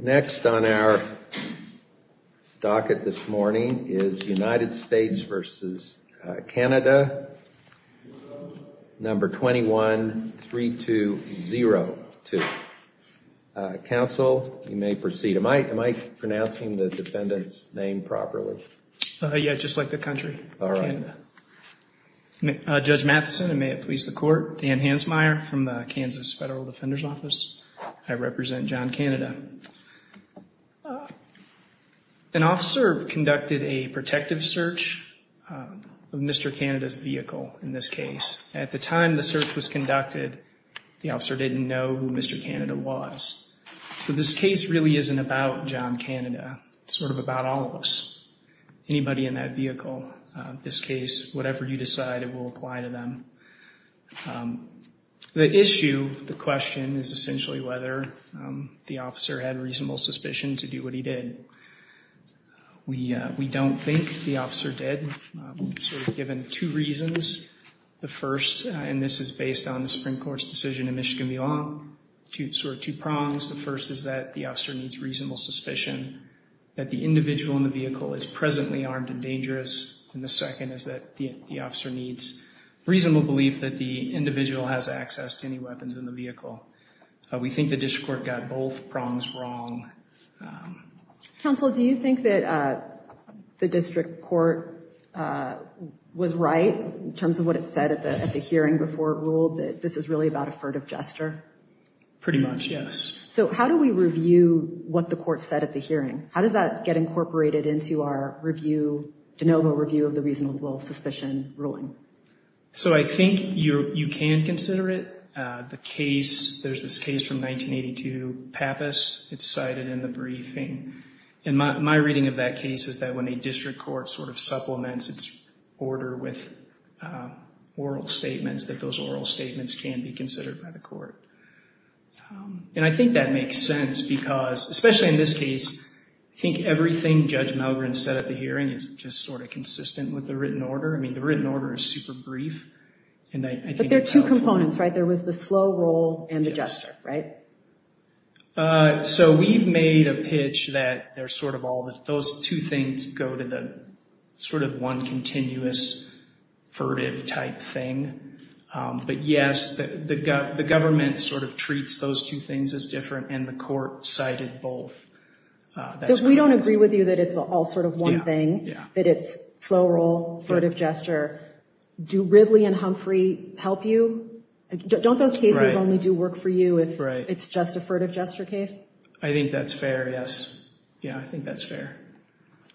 Next on our docket this morning is United States v. Canada, number 21-3202. Counsel, you may proceed. Am I pronouncing the defendant's name properly? Yeah, just like the country, Canada. Judge Matheson, and may it please the Court, I represent John Canada. An officer conducted a protective search of Mr. Canada's vehicle in this case. At the time the search was conducted, the officer didn't know who Mr. Canada was. So this case really isn't about John Canada. It's sort of about all of us, anybody in that vehicle, in this case, whatever you decide, it will apply to them. The issue, the question, is essentially whether the officer had reasonable suspicion to do what he did. We don't think the officer did, sort of given two reasons. The first, and this is based on the Supreme Court's decision in Michigan v. Long, sort of two prongs. The first is that the officer needs reasonable suspicion that the individual in the vehicle is presently armed and dangerous, and the second is that the officer needs reasonable belief that the individual has access to any weapons in the vehicle. We think the district court got both prongs wrong. Counsel, do you think that the district court was right, in terms of what it said at the hearing before it ruled that this is really about a furtive gesture? Pretty much, yes. So how do we review what the court said at the hearing? How does that get incorporated into our review, de novo review of the reasonable suspicion ruling? So I think you can consider it. The case, there's this case from 1982, Pappas. It's cited in the briefing. And my reading of that case is that when a district court sort of supplements its order with oral statements, that those oral statements can be considered by the court. And I think that makes sense because, especially in this case, I think everything Judge Malgren said at the hearing is just sort of consistent with the written order. I mean, the written order is super brief. But there are two components, right? There was the slow roll and the gesture, right? So we've made a pitch that those two things go to the sort of one continuous furtive type thing. But, yes, the government sort of treats those two things as different, and the court cited both. So we don't agree with you that it's all sort of one thing, that it's slow roll, furtive gesture. Do Ridley and Humphrey help you? Don't those cases only do work for you if it's just a furtive gesture case? I think that's fair, yes. Yeah, I think that's fair.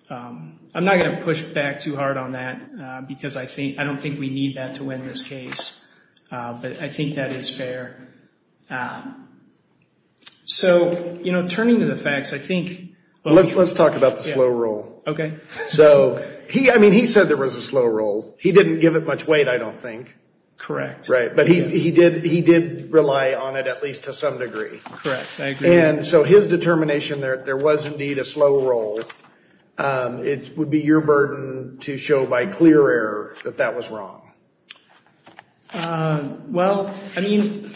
I'm not going to push back too hard on that because I don't think we need that to win this case. But I think that is fair. So, you know, turning to the facts, I think. Let's talk about the slow roll. Okay. So, I mean, he said there was a slow roll. He didn't give it much weight, I don't think. Correct. Right, but he did rely on it at least to some degree. Correct, I agree. And so his determination that there was indeed a slow roll, it would be your burden to show by clear error that that was wrong. Well, I mean,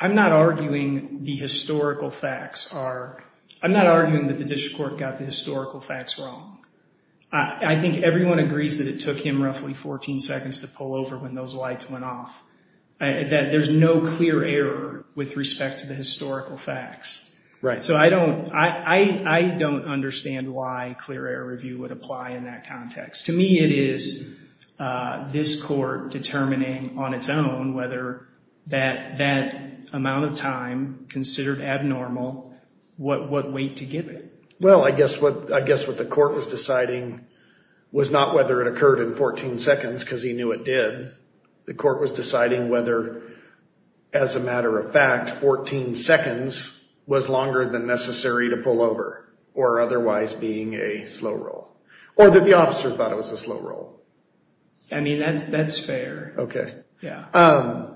I'm not arguing the historical facts are. I'm not arguing that the district court got the historical facts wrong. I think everyone agrees that it took him roughly 14 seconds to pull over when those lights went off, that there's no clear error with respect to the historical facts. Right. So I don't understand why clear error review would apply in that context. To me, it is this court determining on its own whether that amount of time considered abnormal, what weight to give it. Well, I guess what the court was deciding was not whether it occurred in 14 seconds because he knew it did. And that 14 seconds was longer than necessary to pull over, or otherwise being a slow roll. Or that the officer thought it was a slow roll. I mean, that's fair. Okay. Yeah.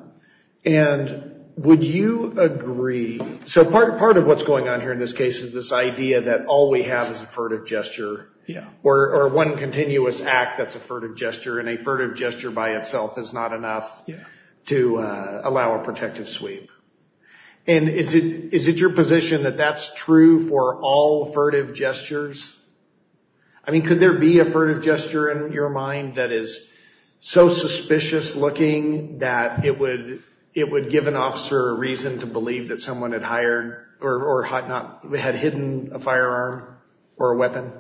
And would you agree? So part of what's going on here in this case is this idea that all we have is a furtive gesture. Yeah. Or one continuous act that's a furtive gesture, and a furtive gesture by itself is not enough to allow a protective sweep. And is it your position that that's true for all furtive gestures? I mean, could there be a furtive gesture in your mind that is so suspicious looking that it would give an officer a reason to believe that someone had hired or had hidden a firearm or a weapon?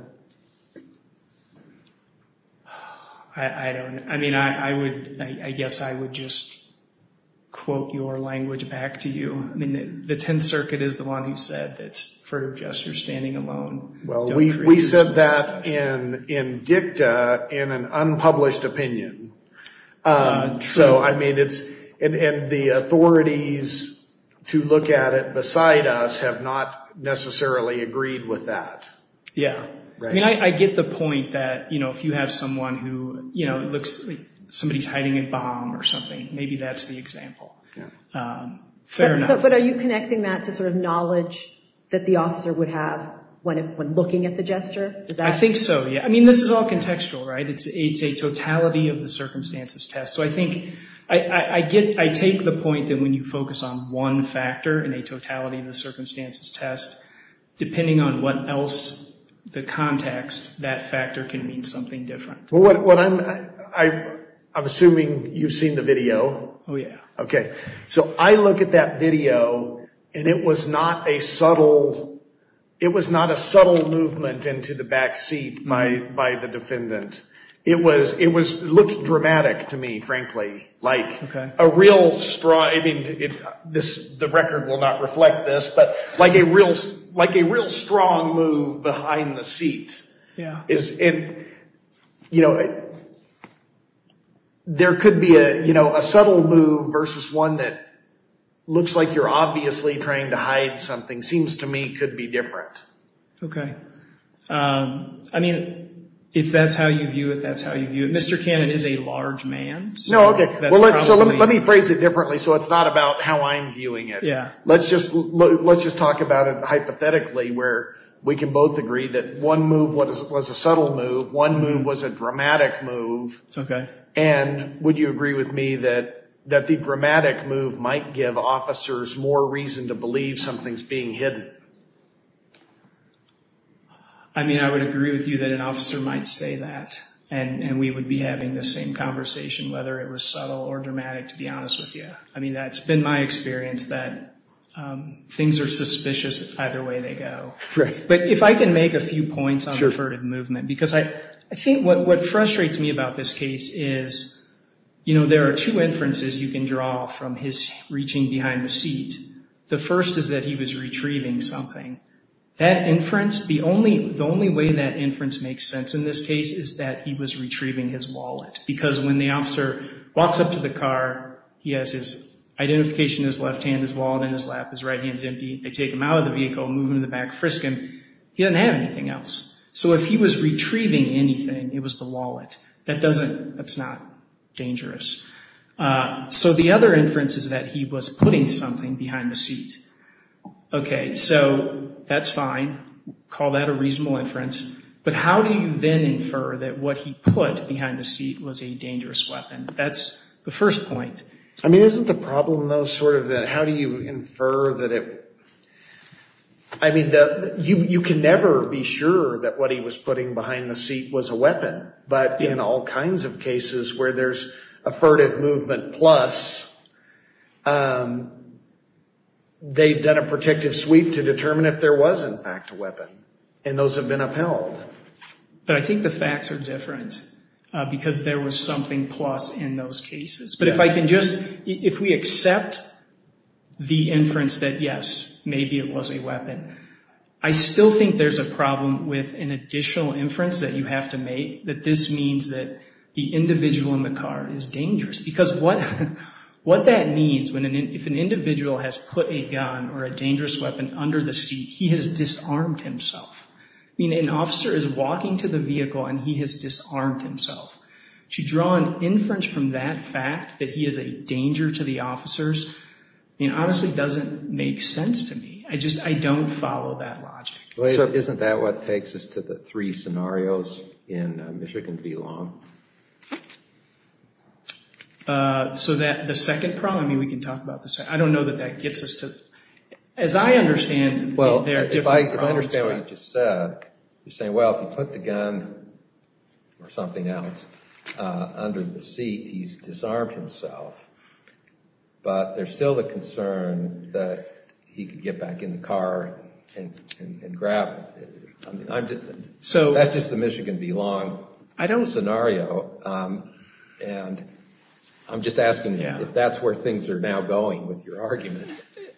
I don't know. I mean, I guess I would just quote your language back to you. I mean, the Tenth Circuit is the one who said that's furtive gesture standing alone. Well, we said that in dicta in an unpublished opinion. True. And the authorities to look at it beside us have not necessarily agreed with that. Yeah. I mean, I get the point that, you know, if you have someone who looks like somebody's hiding a bomb or something, maybe that's the example. Fair enough. But are you connecting that to sort of knowledge that the officer would have when looking at the gesture? I think so, yeah. I mean, this is all contextual, right? It's a totality of the circumstances test. So I think I get, I take the point that when you focus on one factor in a totality of the context, that factor can mean something different. I'm assuming you've seen the video. Oh, yeah. Okay. So I look at that video and it was not a subtle, it was not a subtle movement into the backseat by the defendant. It looked dramatic to me, frankly. Like a real strong, I mean, the record will not reflect this, but like a real strong move behind the seat. Yeah. And, you know, there could be, you know, a subtle move versus one that looks like you're obviously trying to hide something, seems to me could be different. Okay. I mean, if that's how you view it, that's how you view it. Mr. Cannon is a large man. No, okay. So let me phrase it differently so it's not about how I'm viewing it. Yeah. Let's just talk about it hypothetically where we can both agree that one move was a subtle move, one move was a dramatic move. Okay. And would you agree with me that the dramatic move might give officers more reason to believe something's being hidden? I mean, I would agree with you that an officer might say that, and we would be having the same conversation, whether it was subtle or dramatic, to be honest with you. Yeah. I mean, that's been my experience that things are suspicious either way they go. Right. But if I can make a few points on the word movement because I think what frustrates me about this case is, you know, there are two inferences you can draw from his reaching behind the seat. The first is that he was retrieving something. That inference, the only way that inference makes sense in this case is that he was retrieving his wallet because when the officer walks up to the car, he has his identification in his left hand, his wallet in his lap, his right hand's empty. They take him out of the vehicle, move him to the back, frisk him. He doesn't have anything else. So if he was retrieving anything, it was the wallet. That doesn't, that's not dangerous. So the other inference is that he was putting something behind the seat. Okay. So that's fine. Call that a reasonable inference. But how do you then infer that what he put behind the seat was a dangerous weapon? That's the first point. I mean, isn't the problem, though, sort of that how do you infer that it, I mean, you can never be sure that what he was putting behind the seat was a weapon. But in all kinds of cases where there's a furtive movement plus, they've done a protective sweep to determine if there was, in fact, a weapon. And those have been upheld. But I think the facts are different because there was something plus in those cases. But if I can just, if we accept the inference that, yes, maybe it was a weapon, I still think there's a problem with an additional inference that you have to make that this means that the individual in the car is dangerous. Because what that means, if an individual has put a gun or a dangerous weapon under the seat, he has disarmed himself. I mean, an officer is walking to the vehicle and he has disarmed himself. To draw an inference from that fact that he is a danger to the officers, I mean, honestly, doesn't make sense to me. I just, I don't follow that logic. So isn't that what takes us to the three scenarios in Michigan v. Long? So that the second problem, I mean, we can talk about this. I don't know that that gets us to, as I understand, Well, if I understand what you just said, you're saying, well, if he put the gun or something else under the seat, he's disarmed himself. But there's still the concern that he could get back in the car and grab. That's just the Michigan v. Long scenario. And I'm just asking you if that's where things are now going with your argument.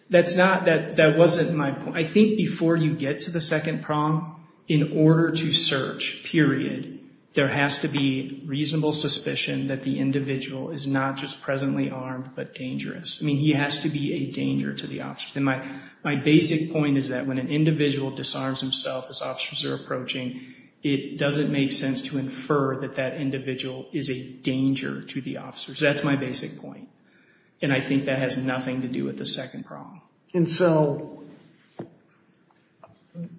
That's not, that wasn't my point. I think before you get to the second problem, in order to search, period, there has to be reasonable suspicion that the individual is not just presently armed but dangerous. I mean, he has to be a danger to the officers. And my basic point is that when an individual disarms himself as officers are approaching, it doesn't make sense to infer that that individual is a danger to the officers. That's my basic point. And I think that has nothing to do with the second problem. And so,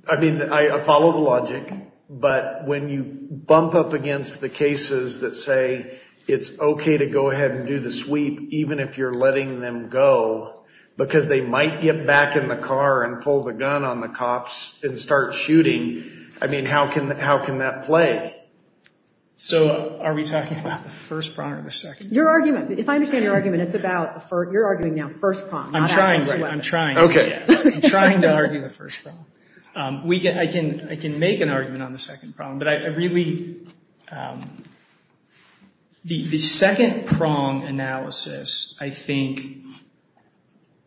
I mean, I follow the logic. But when you bump up against the cases that say it's okay to go ahead and do the sweep, even if you're letting them go, because they might get back in the car and pull the gun on the cops and start shooting. I mean, how can that play? So are we talking about the first problem or the second? Your argument, if I understand your argument, it's about, you're arguing now first prong. I'm trying, I'm trying. Okay. I'm trying to argue the first prong. I can make an argument on the second problem, but I really, the second prong analysis, I think,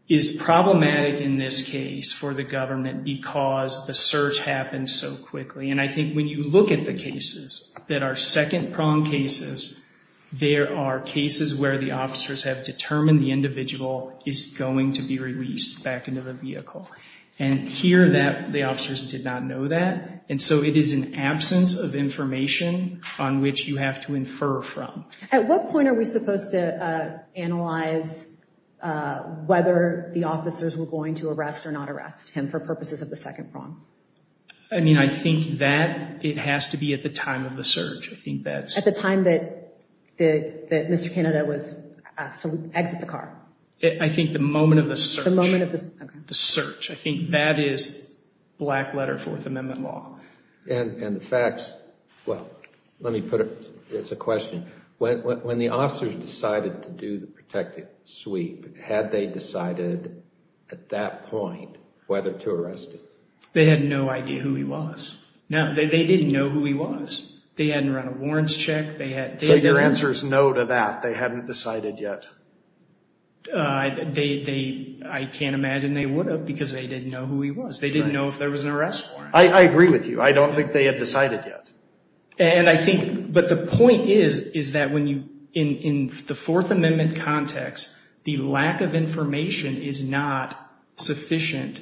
is problematic in this case for the government because the search happens so quickly. And I think when you look at the cases that are second prong cases, there are cases where the officers have determined the individual is going to be released back into the vehicle. And here the officers did not know that. And so it is an absence of information on which you have to infer from. At what point are we supposed to analyze whether the officers were going to arrest or not arrest him for purposes of the second prong? I mean, I think that it has to be at the time of the search. At the time that Mr. Canada was asked to exit the car? I think the moment of the search. The moment of the search. I think that is black letter Fourth Amendment law. And the facts, well, let me put it, it's a question. When the officers decided to do the protective sweep, had they decided at that point whether to arrest him? They had no idea who he was. No, they didn't know who he was. They hadn't run a warrants check. So your answer is no to that. They hadn't decided yet. I can't imagine they would have because they didn't know who he was. They didn't know if there was an arrest warrant. I agree with you. I don't think they had decided yet. But the point is that in the Fourth Amendment context, the lack of information is not sufficient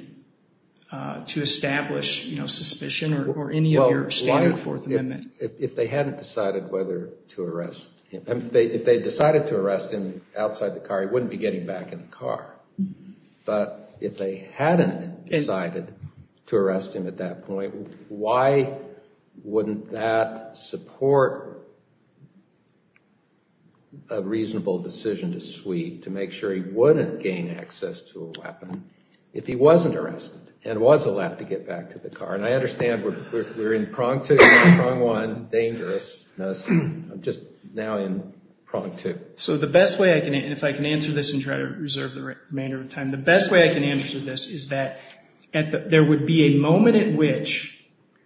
to establish suspicion or any of your standard Fourth Amendment. If they hadn't decided whether to arrest him, if they decided to arrest him outside the car, he wouldn't be getting back in the car. But if they hadn't decided to arrest him at that point, why wouldn't that support a reasonable decision to sweep to make sure he wouldn't gain access to a weapon if he wasn't arrested and was allowed to get back to the car? And I understand we're in prong two, prong one, dangerous. I'm just now in prong two. So the best way I can, and if I can answer this and try to reserve the remainder of time, the best way I can answer this is that there would be a moment at which,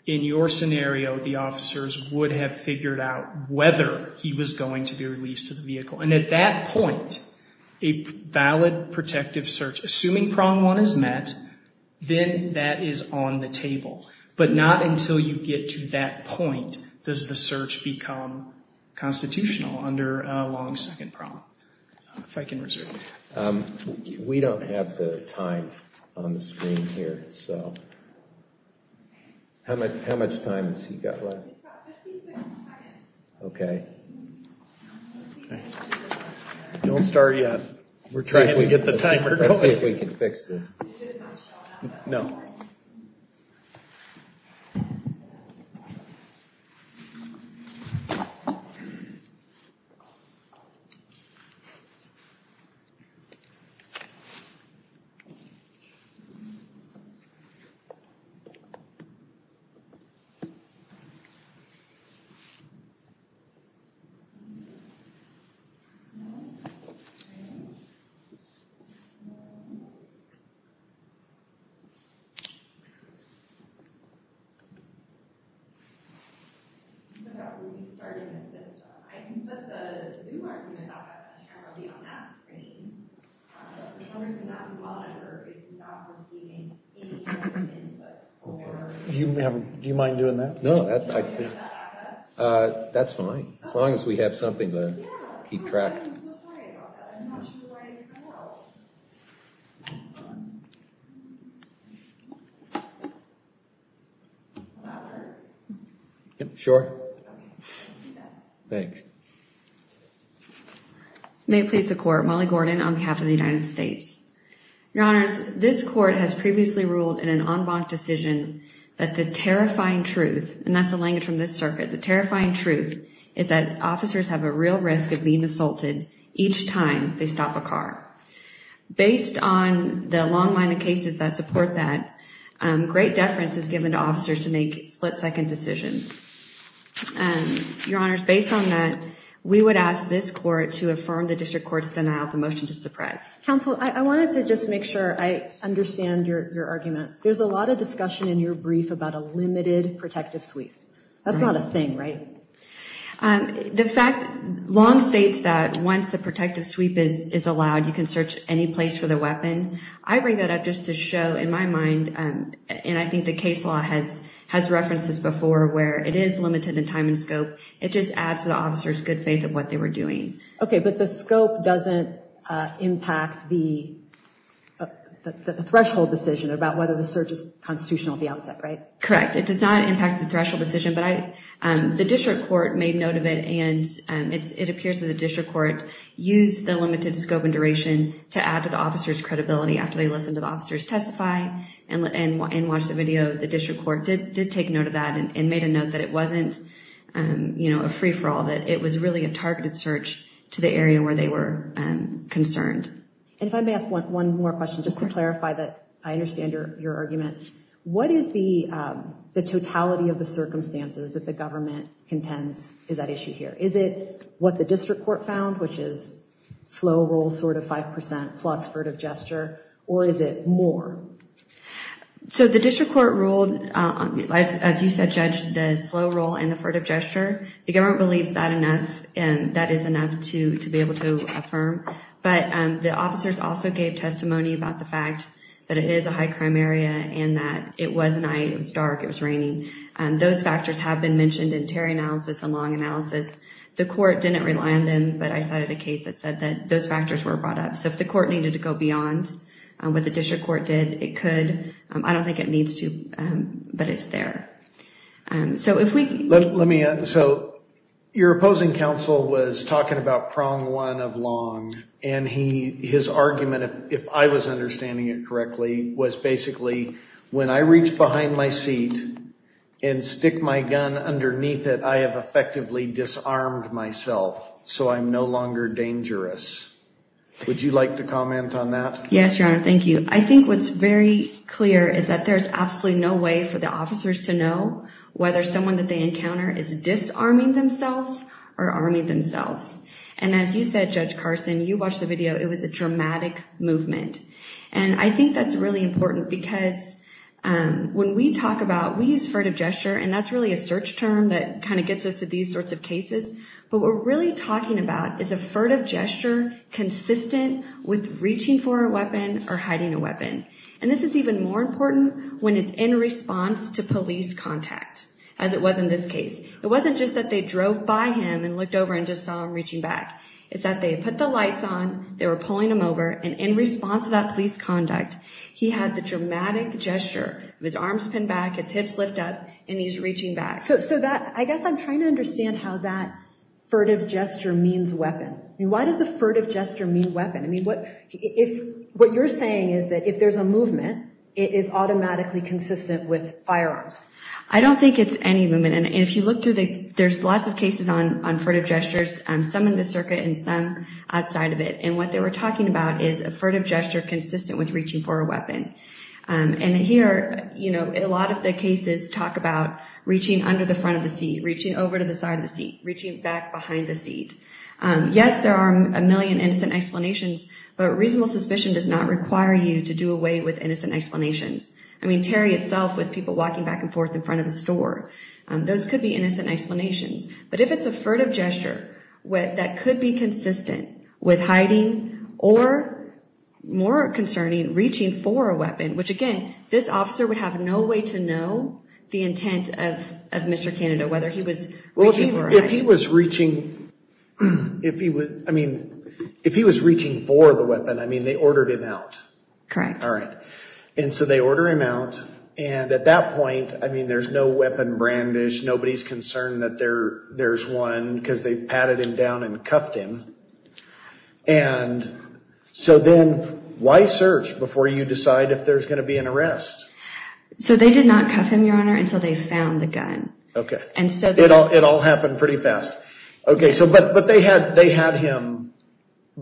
in your scenario, the officers would have figured out whether he was going to be released to the vehicle. And at that point, a valid protective search, assuming prong one is met, then that is on the table. But not until you get to that point does the search become constitutional under long second prong. If I can reserve that. We don't have the time on the screen here. So how much time has he got left? About 15 seconds. Okay. Don't start yet. We're trying to get the timer going. No. Do you mind doing that? No. That's fine. As long as we have something to keep track. I'm so sorry about that. I'm not sure where I even fell. Will that work? Sure. Okay. I'll do that. Thanks. May it please the Court, Molly Gordon on behalf of the United States. Your Honors, this Court has previously ruled in an en banc decision that the terrifying truth, and that's the language from this circuit, the terrifying truth is that officers have a real risk of being assaulted each time they stop a car. Based on the long line of cases that support that, great deference is given to officers to make split-second decisions. Your Honors, based on that, we would ask this Court to affirm the district court's denial of the motion to suppress. Counsel, I wanted to just make sure I understand your argument. There's a lot of discussion in your brief about a limited protective suite. That's not a thing, right? The fact, Long states that once the protective suite is allowed, you can search any place for the weapon. I bring that up just to show, in my mind, and I think the case law has referenced this before, where it is limited in time and scope. It just adds to the officer's good faith of what they were doing. Okay, but the scope doesn't impact the threshold decision about whether the search is constitutional at the outset, right? Correct. It does not impact the threshold decision, but the district court made note of it, and it appears that the district court used the limited scope and duration to add to the officer's credibility after they listened to the officers testify and watched the video. The district court did take note of that and made a note that it wasn't a free-for-all, that it was really a targeted search to the area where they were concerned. If I may ask one more question, just to clarify that I understand your argument. What is the totality of the circumstances that the government contends is that issue here? Is it what the district court found, which is slow roll sort of 5% plus furtive gesture, or is it more? So the district court ruled, as you said, judge the slow roll and the furtive gesture. The government believes that is enough to be able to affirm, but the officers also gave testimony about the fact that it is a high crime area and that it was night, it was dark, it was raining. Those factors have been mentioned in Terry analysis and Long analysis. The court didn't rely on them, but I cited a case that said that those factors were brought up. So if the court needed to go beyond what the district court did, it could. I don't think it needs to, but it's there. So if we. Let me, so your opposing counsel was talking about prong one of Long and he, his argument, if I was understanding it correctly, was basically when I reached behind my seat and stick my gun underneath it, I have effectively disarmed myself. So I'm no longer dangerous. Would you like to comment on that? Yes, your honor. Thank you. I think what's very clear is that there's absolutely no way for the officers to know whether someone that they encounter is disarming themselves or army themselves. And as you said, judge Carson, you watched the video. It was a dramatic movement. And I think that's really important because when we talk about, we use furtive gesture and that's really a search term that kind of gets us to these sorts of cases. But we're really talking about is a furtive gesture consistent with reaching for a weapon or hiding a weapon. And this is even more important when it's in response to police contact, as it was in this case. It wasn't just that they drove by him and looked over and just saw him reaching back. It's that they put the lights on, they were pulling him over, and in response to that police conduct, he had the dramatic gesture of his arms pinned back, his hips lift up, and he's reaching back. So I guess I'm trying to understand how that furtive gesture means weapon. I mean, why does the furtive gesture mean weapon? I mean, what you're saying is that if there's a movement, it is automatically consistent with firearms. I don't think it's any movement. And if you look through, there's lots of cases on furtive gestures. Some in the circuit and some outside of it. And what they were talking about is a furtive gesture consistent with reaching for a weapon. And here, you know, a lot of the cases talk about reaching under the front of the seat, reaching over to the side of the seat, reaching back behind the seat. Yes, there are a million innocent explanations, but reasonable suspicion does not require you to do away with innocent explanations. I mean, Terry itself was people walking back and forth in front of the store. Those could be innocent explanations. But if it's a furtive gesture that could be consistent with hiding or more concerning reaching for a weapon, which again, this officer would have no way to know the intent of Mr. Canada, whether he was. Well, if he was reaching, if he would, I mean, if he was reaching for the weapon, I mean, they ordered him out. Correct. All right. And so they order him out. And at that point, I mean, there's no weapon brandish. Nobody's concerned that there there's one because they've patted him down and cuffed him. And so then why search before you decide if there's going to be an arrest? So they did not cuff him, your honor. And so they found the gun. Okay. And so it all, it all happened pretty fast. Okay. So, but, but they had, they had him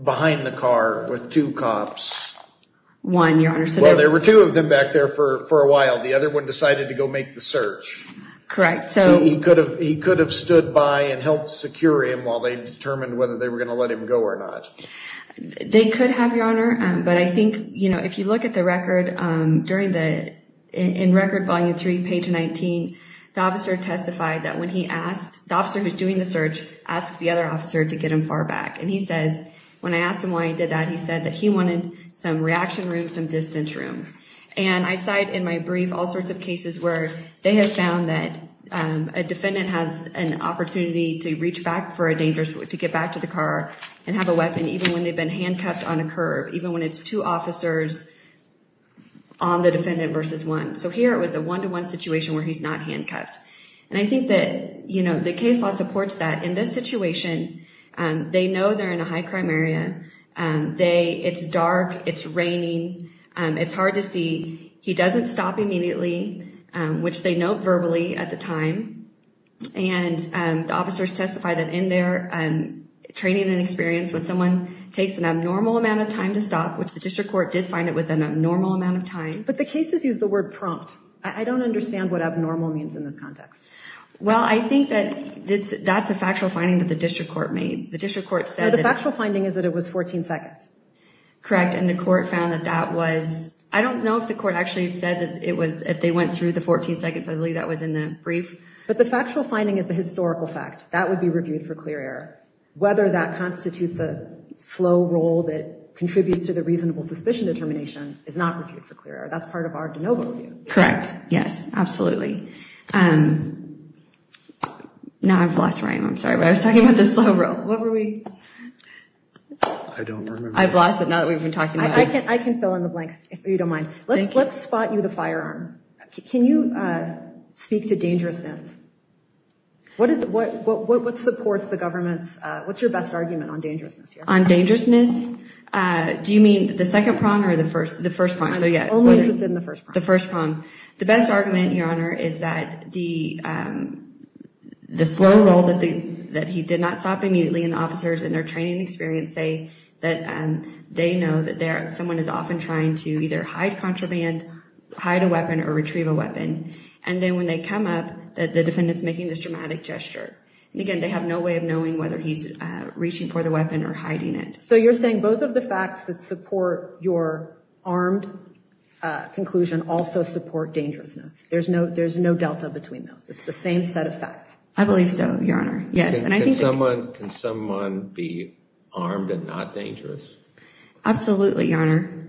behind the car with two cops. One, your honor. So there were two of them back there for a while. The other one decided to go make the search. Correct. So he could have, he could have stood by and helped secure him while they determined whether they were going to let him go or not. They could have, your honor. But I think, you know, if you look at the record during the, in record, volume three, page 19, the officer testified that when he asked, the officer who's doing the search asks the other officer to get him far back. And he says, when I asked him why he did that, he said that he wanted some reaction room, some distance room. And I cite in my brief all sorts of cases where they have found that a defendant has an opportunity to reach back for a dangerous, to get back to the car and have a weapon, even when they've been handcuffed on a curb, even when it's two officers on the defendant versus one. So here it was a one-to-one situation where he's not handcuffed. And I think that, you know, the case law supports that. In this situation, they know they're in a high crime area. They, it's dark, it's raining. It's hard to see. He doesn't stop immediately, which they note verbally at the time. And the officers testified that in their training and experience, when someone takes an abnormal amount of time to stop, which the district court did find it was an abnormal amount of time. But the cases use the word prompt. I don't understand what abnormal means in this context. Well, I think that that's a factual finding that the district court made. The district court said that. The factual finding is that it was 14 seconds. Correct. And the court found that that was, I don't know if the court actually said that it was, if they went through the 14 seconds. I believe that was in the brief. But the factual finding is the historical fact. That would be reviewed for clear error. Whether that constitutes a slow roll that contributes to the reasonable suspicion determination is not reviewed for clear error. That's part of our de novo view. Correct. Yes, absolutely. Now I've lost Ryan. I'm sorry, but I was talking about the slow roll. What were we? I don't remember. I've lost it now that we've been talking about it. I can fill in the blank if you don't mind. Let's spot you the firearm. Can you speak to dangerousness? What supports the government's, what's your best argument on dangerousness here? On dangerousness? Do you mean the second prong or the first prong? I'm only interested in the first prong. The first prong. The best argument, Your Honor, is that the slow roll that he did not stop immediately in the officers and their training experience say that they know that someone is often trying to either hide contraband, hide a weapon, or retrieve a weapon. And then when they come up, the defendant's making this dramatic gesture. And, again, they have no way of knowing whether he's reaching for the weapon or hiding it. So you're saying both of the facts that support your armed conclusion also support dangerousness. There's no delta between those. It's the same set of facts. I believe so, Your Honor. Can someone be armed and not dangerous? Absolutely, Your Honor.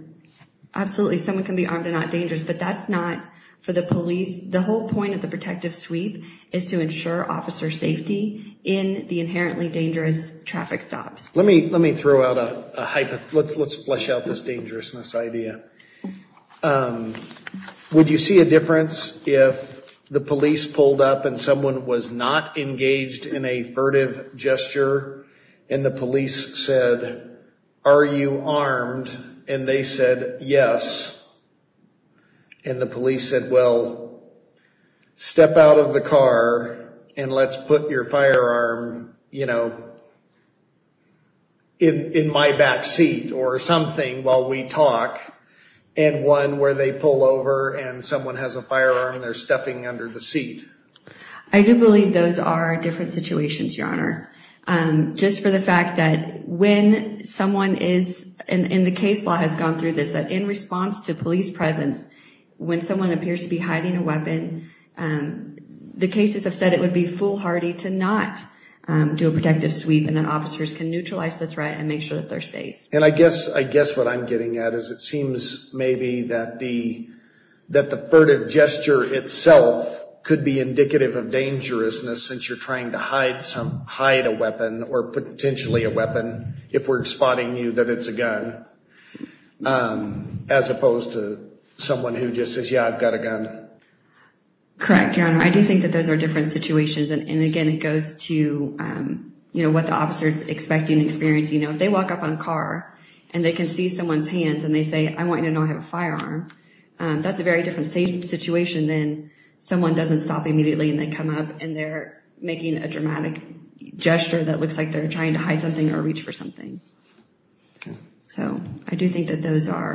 Absolutely, someone can be armed and not dangerous. But that's not for the police. The whole point of the protective sweep is to ensure officer safety in the inherently dangerous traffic stops. Let me throw out a hypothetical. Let's flesh out this dangerousness idea. Would you see a difference if the police pulled up and someone was not engaged in a furtive gesture and the police said, are you armed? And they said, yes. And the police said, well, step out of the car and let's put your firearm, you know, in my back seat or something while we talk. And one where they pull over and someone has a firearm and they're stuffing under the seat. I do believe those are different situations, Your Honor. Just for the fact that when someone is, and the case law has gone through this, that in response to police presence, when someone appears to be hiding a weapon, the cases have said it would be foolhardy to not do a protective sweep and then officers can neutralize the threat and make sure that they're safe. And I guess what I'm getting at is it seems maybe that the furtive gesture itself could be indicative of dangerousness since you're trying to hide a weapon or potentially a weapon if we're spotting you that it's a gun, as opposed to someone who just says, yeah, I've got a gun. Correct, Your Honor. I do think that those are different situations. And again, it goes to, you know, what the officer is expecting and experiencing. You know, if they walk up on a car and they can see someone's hands and they say, I want you to know I have a firearm, that's a very different situation than someone doesn't stop immediately and they come up and they're making a dramatic gesture that looks like they're trying to hide something or reach for something. So I do think that those are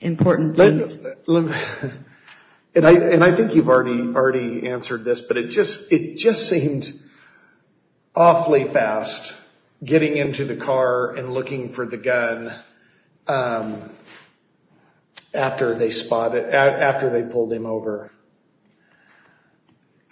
important things. And I think you've already answered this, but it just seemed awfully fast getting into the car and looking for the gun. After they spotted, after they pulled him over.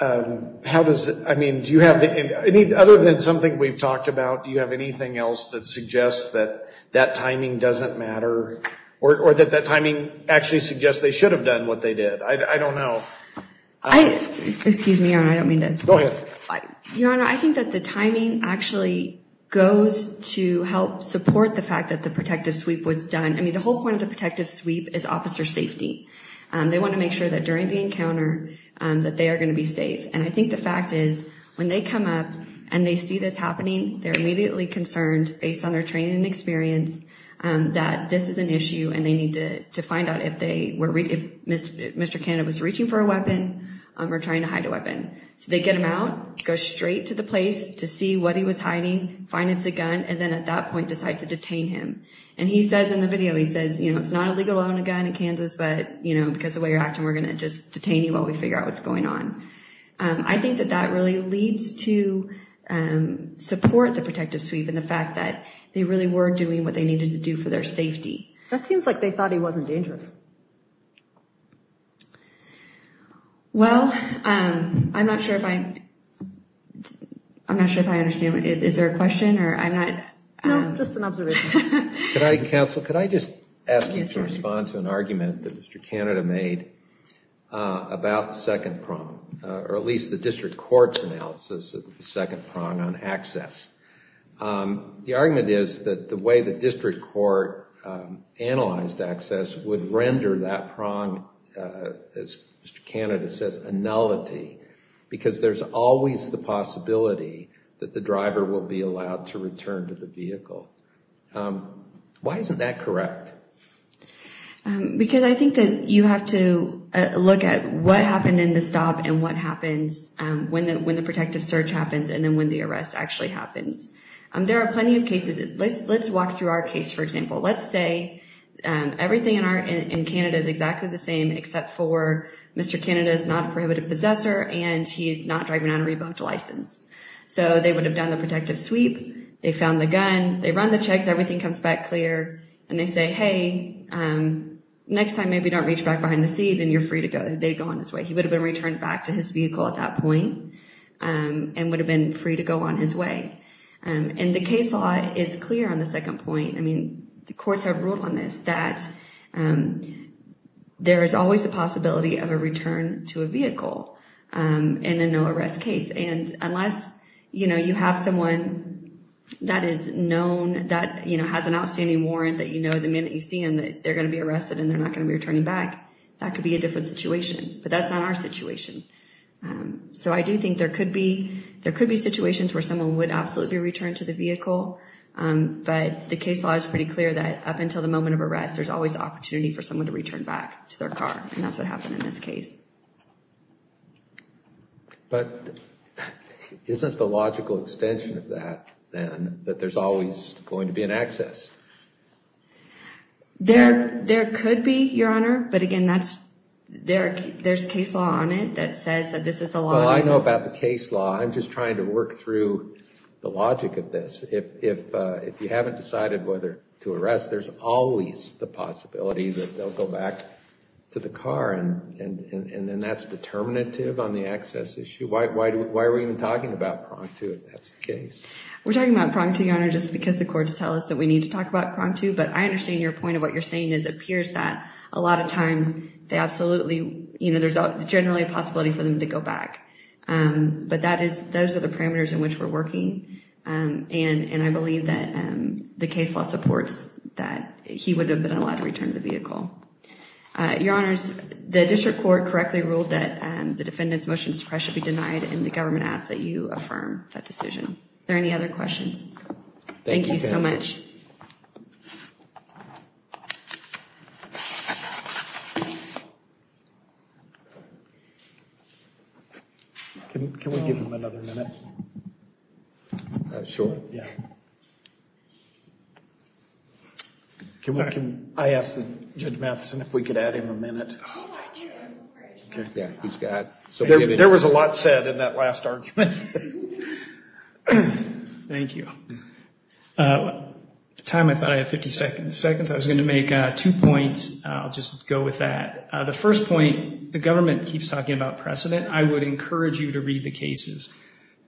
How does it, I mean, do you have, other than something we've talked about, do you have anything else that suggests that that timing doesn't matter or that that timing actually suggests they should have done what they did? I don't know. Excuse me, Your Honor, I don't mean to. Go ahead. Your Honor, I think that the timing actually goes to help support the fact that the protective sweep was done. I mean, the whole point of the protective sweep is officer safety. They want to make sure that during the encounter that they are going to be safe. And I think the fact is when they come up and they see this happening, they're immediately concerned based on their training and experience that this is an issue and they need to find out if they were, if Mr. Canada was reaching for a weapon or trying to hide a weapon. So they get him out, go straight to the place to see what he was hiding, find it's a gun. And then at that point, decide to detain him. And he says in the video, he says, you know, it's not illegal to own a gun in Kansas, but, you know, because of the way you're acting, we're going to just detain you while we figure out what's going on. I think that that really leads to support the protective sweep and the fact that they really were doing what they needed to do for their safety. That seems like they thought he wasn't dangerous. Well, I'm not sure if I, I'm not sure if I understand. Is there a question or I'm not. No, just an observation. Can I counsel, could I just ask you to respond to an argument that Mr. Canada made about the second problem or at least the district court's analysis of the second prong on access. The argument is that the way the district court analyzed access would render that prong, as Mr. Canada says, a nullity because there's always the possibility that the driver will be allowed to return to the vehicle. Why isn't that correct? Because I think that you have to look at what happened in the stop and what happens when the protective search happens and then when the arrest actually happens. There are plenty of cases. Let's walk through our case, for example. Let's say everything in Canada is exactly the same, except for Mr. Canada is not a prohibited possessor and he's not driving on a rebooked license. So they would have done the protective sweep. They found the gun. They run the checks. Everything comes back clear. And they say, hey, next time maybe don't reach back behind the seat and you're free to go. They'd go on his way. He would have been returned back to his vehicle at that point and would have been free to go on his way. And the case law is clear on the second point. I mean, the courts have ruled on this, that there is always the possibility of a return to a vehicle in a no arrest case. And unless you have someone that is known, that has an outstanding warrant that you know the minute you see them that they're going to be arrested and they're not going to be returning back, that could be a different situation. But that's not our situation. So I do think there could be situations where someone would absolutely return to the vehicle. But the case law is pretty clear that up until the moment of arrest, there's always opportunity for someone to return back to their car. And that's what happened in this case. But isn't the logical extension of that then that there's always going to be an access? There could be, Your Honor. But again, there's case law on it that says that this is the law. Well, I know about the case law. I'm just trying to work through the logic of this. If you haven't decided whether to arrest, there's always the possibility that they'll go back to the car. And that's determinative on the access issue. Why are we even talking about pronged to if that's the case? We're talking about pronged to, Your Honor, just because the courts tell us that we need to talk about pronged to. But I understand your point of what you're saying is it appears that a lot of times there's generally a possibility for them to go back. But those are the parameters in which we're working. And I believe that the case law supports that he would have been allowed to return the vehicle. Your Honors, the district court correctly ruled that the defendant's motion to press should be denied and the government asked that you affirm that decision. Are there any other questions? Thank you so much. Can we give him another minute? Sure. I asked Judge Matheson if we could add him a minute. Oh, thank you. There was a lot said in that last argument. Thank you. At the time I thought I had 50 seconds. I was going to make two points. I'll just go with that. The first point, the government keeps talking about precedent. I would encourage you to read the cases.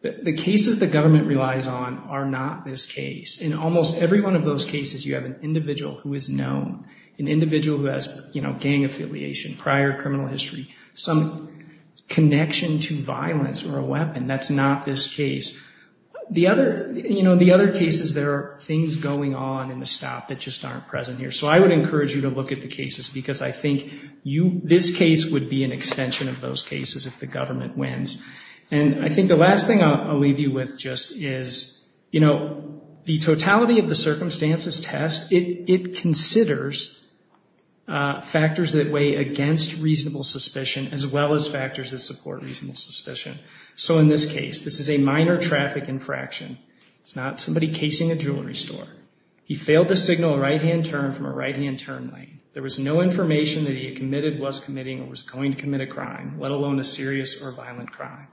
The cases the government relies on are not this case. In almost every one of those cases, you have an individual who is known, an individual who has gang affiliation, prior criminal history, some connection to violence or a weapon. That's not this case. The other cases, there are things going on in the stop that just aren't present here. So I would encourage you to look at the cases because I think this case would be an extension of those cases if the government wins. And I think the last thing I'll leave you with just is, you know, the totality of the circumstances test, it considers factors that weigh against reasonable suspicion as well as factors that support reasonable suspicion. So in this case, this is a minor traffic infraction. It's not somebody casing a jewelry store. He failed to signal a right-hand turn from a right-hand turn lane. There was no information that he had committed, was committing, or was going to commit a crime, let alone a serious or violent crime.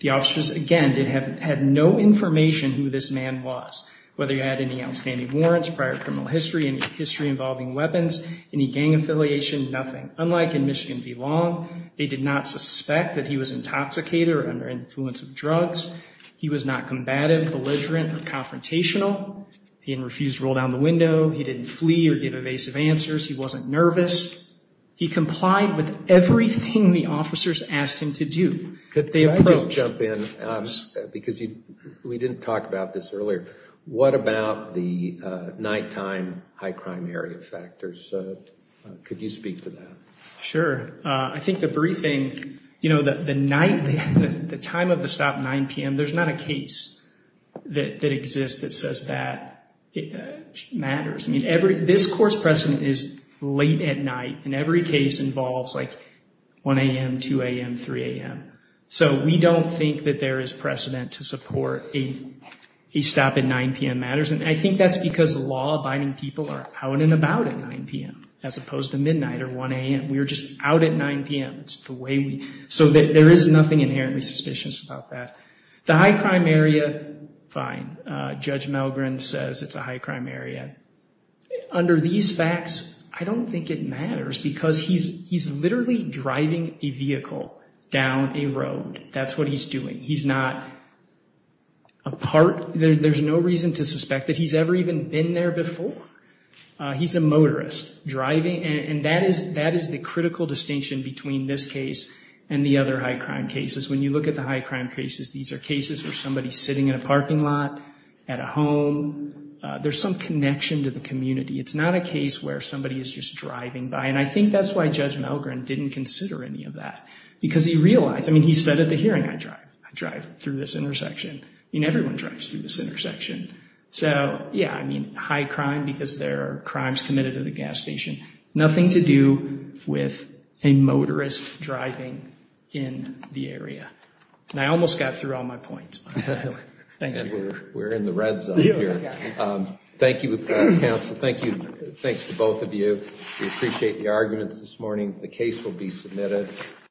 The officers, again, had no information who this man was, whether he had any outstanding warrants, prior criminal history, any history involving weapons, any gang affiliation, nothing. Unlike in Michigan v. Long, they did not suspect that he was intoxicated or under influence of drugs. He was not combative, belligerent, or confrontational. He had refused to roll down the window. He didn't flee or give evasive answers. He wasn't nervous. He complied with everything the officers asked him to do. Could I just jump in? Because we didn't talk about this earlier. What about the nighttime high-crime area factors? Could you speak to that? Sure. I think the briefing, you know, the night, the time of the stop, 9 p.m., there's not a case that exists that says that matters. I mean, this court's precedent is late at night, and every case involves, like, 1 a.m., 2 a.m., 3 a.m. So we don't think that there is precedent to support a stop at 9 p.m. matters. And I think that's because law-abiding people are out and about at 9 p.m., as opposed to midnight or 1 a.m. We are just out at 9 p.m. So there is nothing inherently suspicious about that. The high-crime area, fine. Judge Melgren says it's a high-crime area. Under these facts, I don't think it matters, because he's literally driving a vehicle down a road. That's what he's doing. He's not a part. There's no reason to suspect that he's ever even been there before. He's a motorist driving, and that is the critical distinction between this case and the other high-crime cases. When you look at the high-crime cases, these are cases where somebody's sitting in a parking lot at a home. There's some connection to the community. It's not a case where somebody is just driving by, and I think that's why Judge Melgren didn't consider any of that, because he realized, I mean, he said at the hearing, I drive through this intersection. I mean, everyone drives through this intersection. So, yeah, I mean, high-crime, because there are crimes committed at a gas station. Nothing to do with a motorist driving in the area. And I almost got through all my points. Thank you. And we're in the red zone here. Thank you, counsel. Thanks to both of you. We appreciate the arguments this morning. The case will be submitted.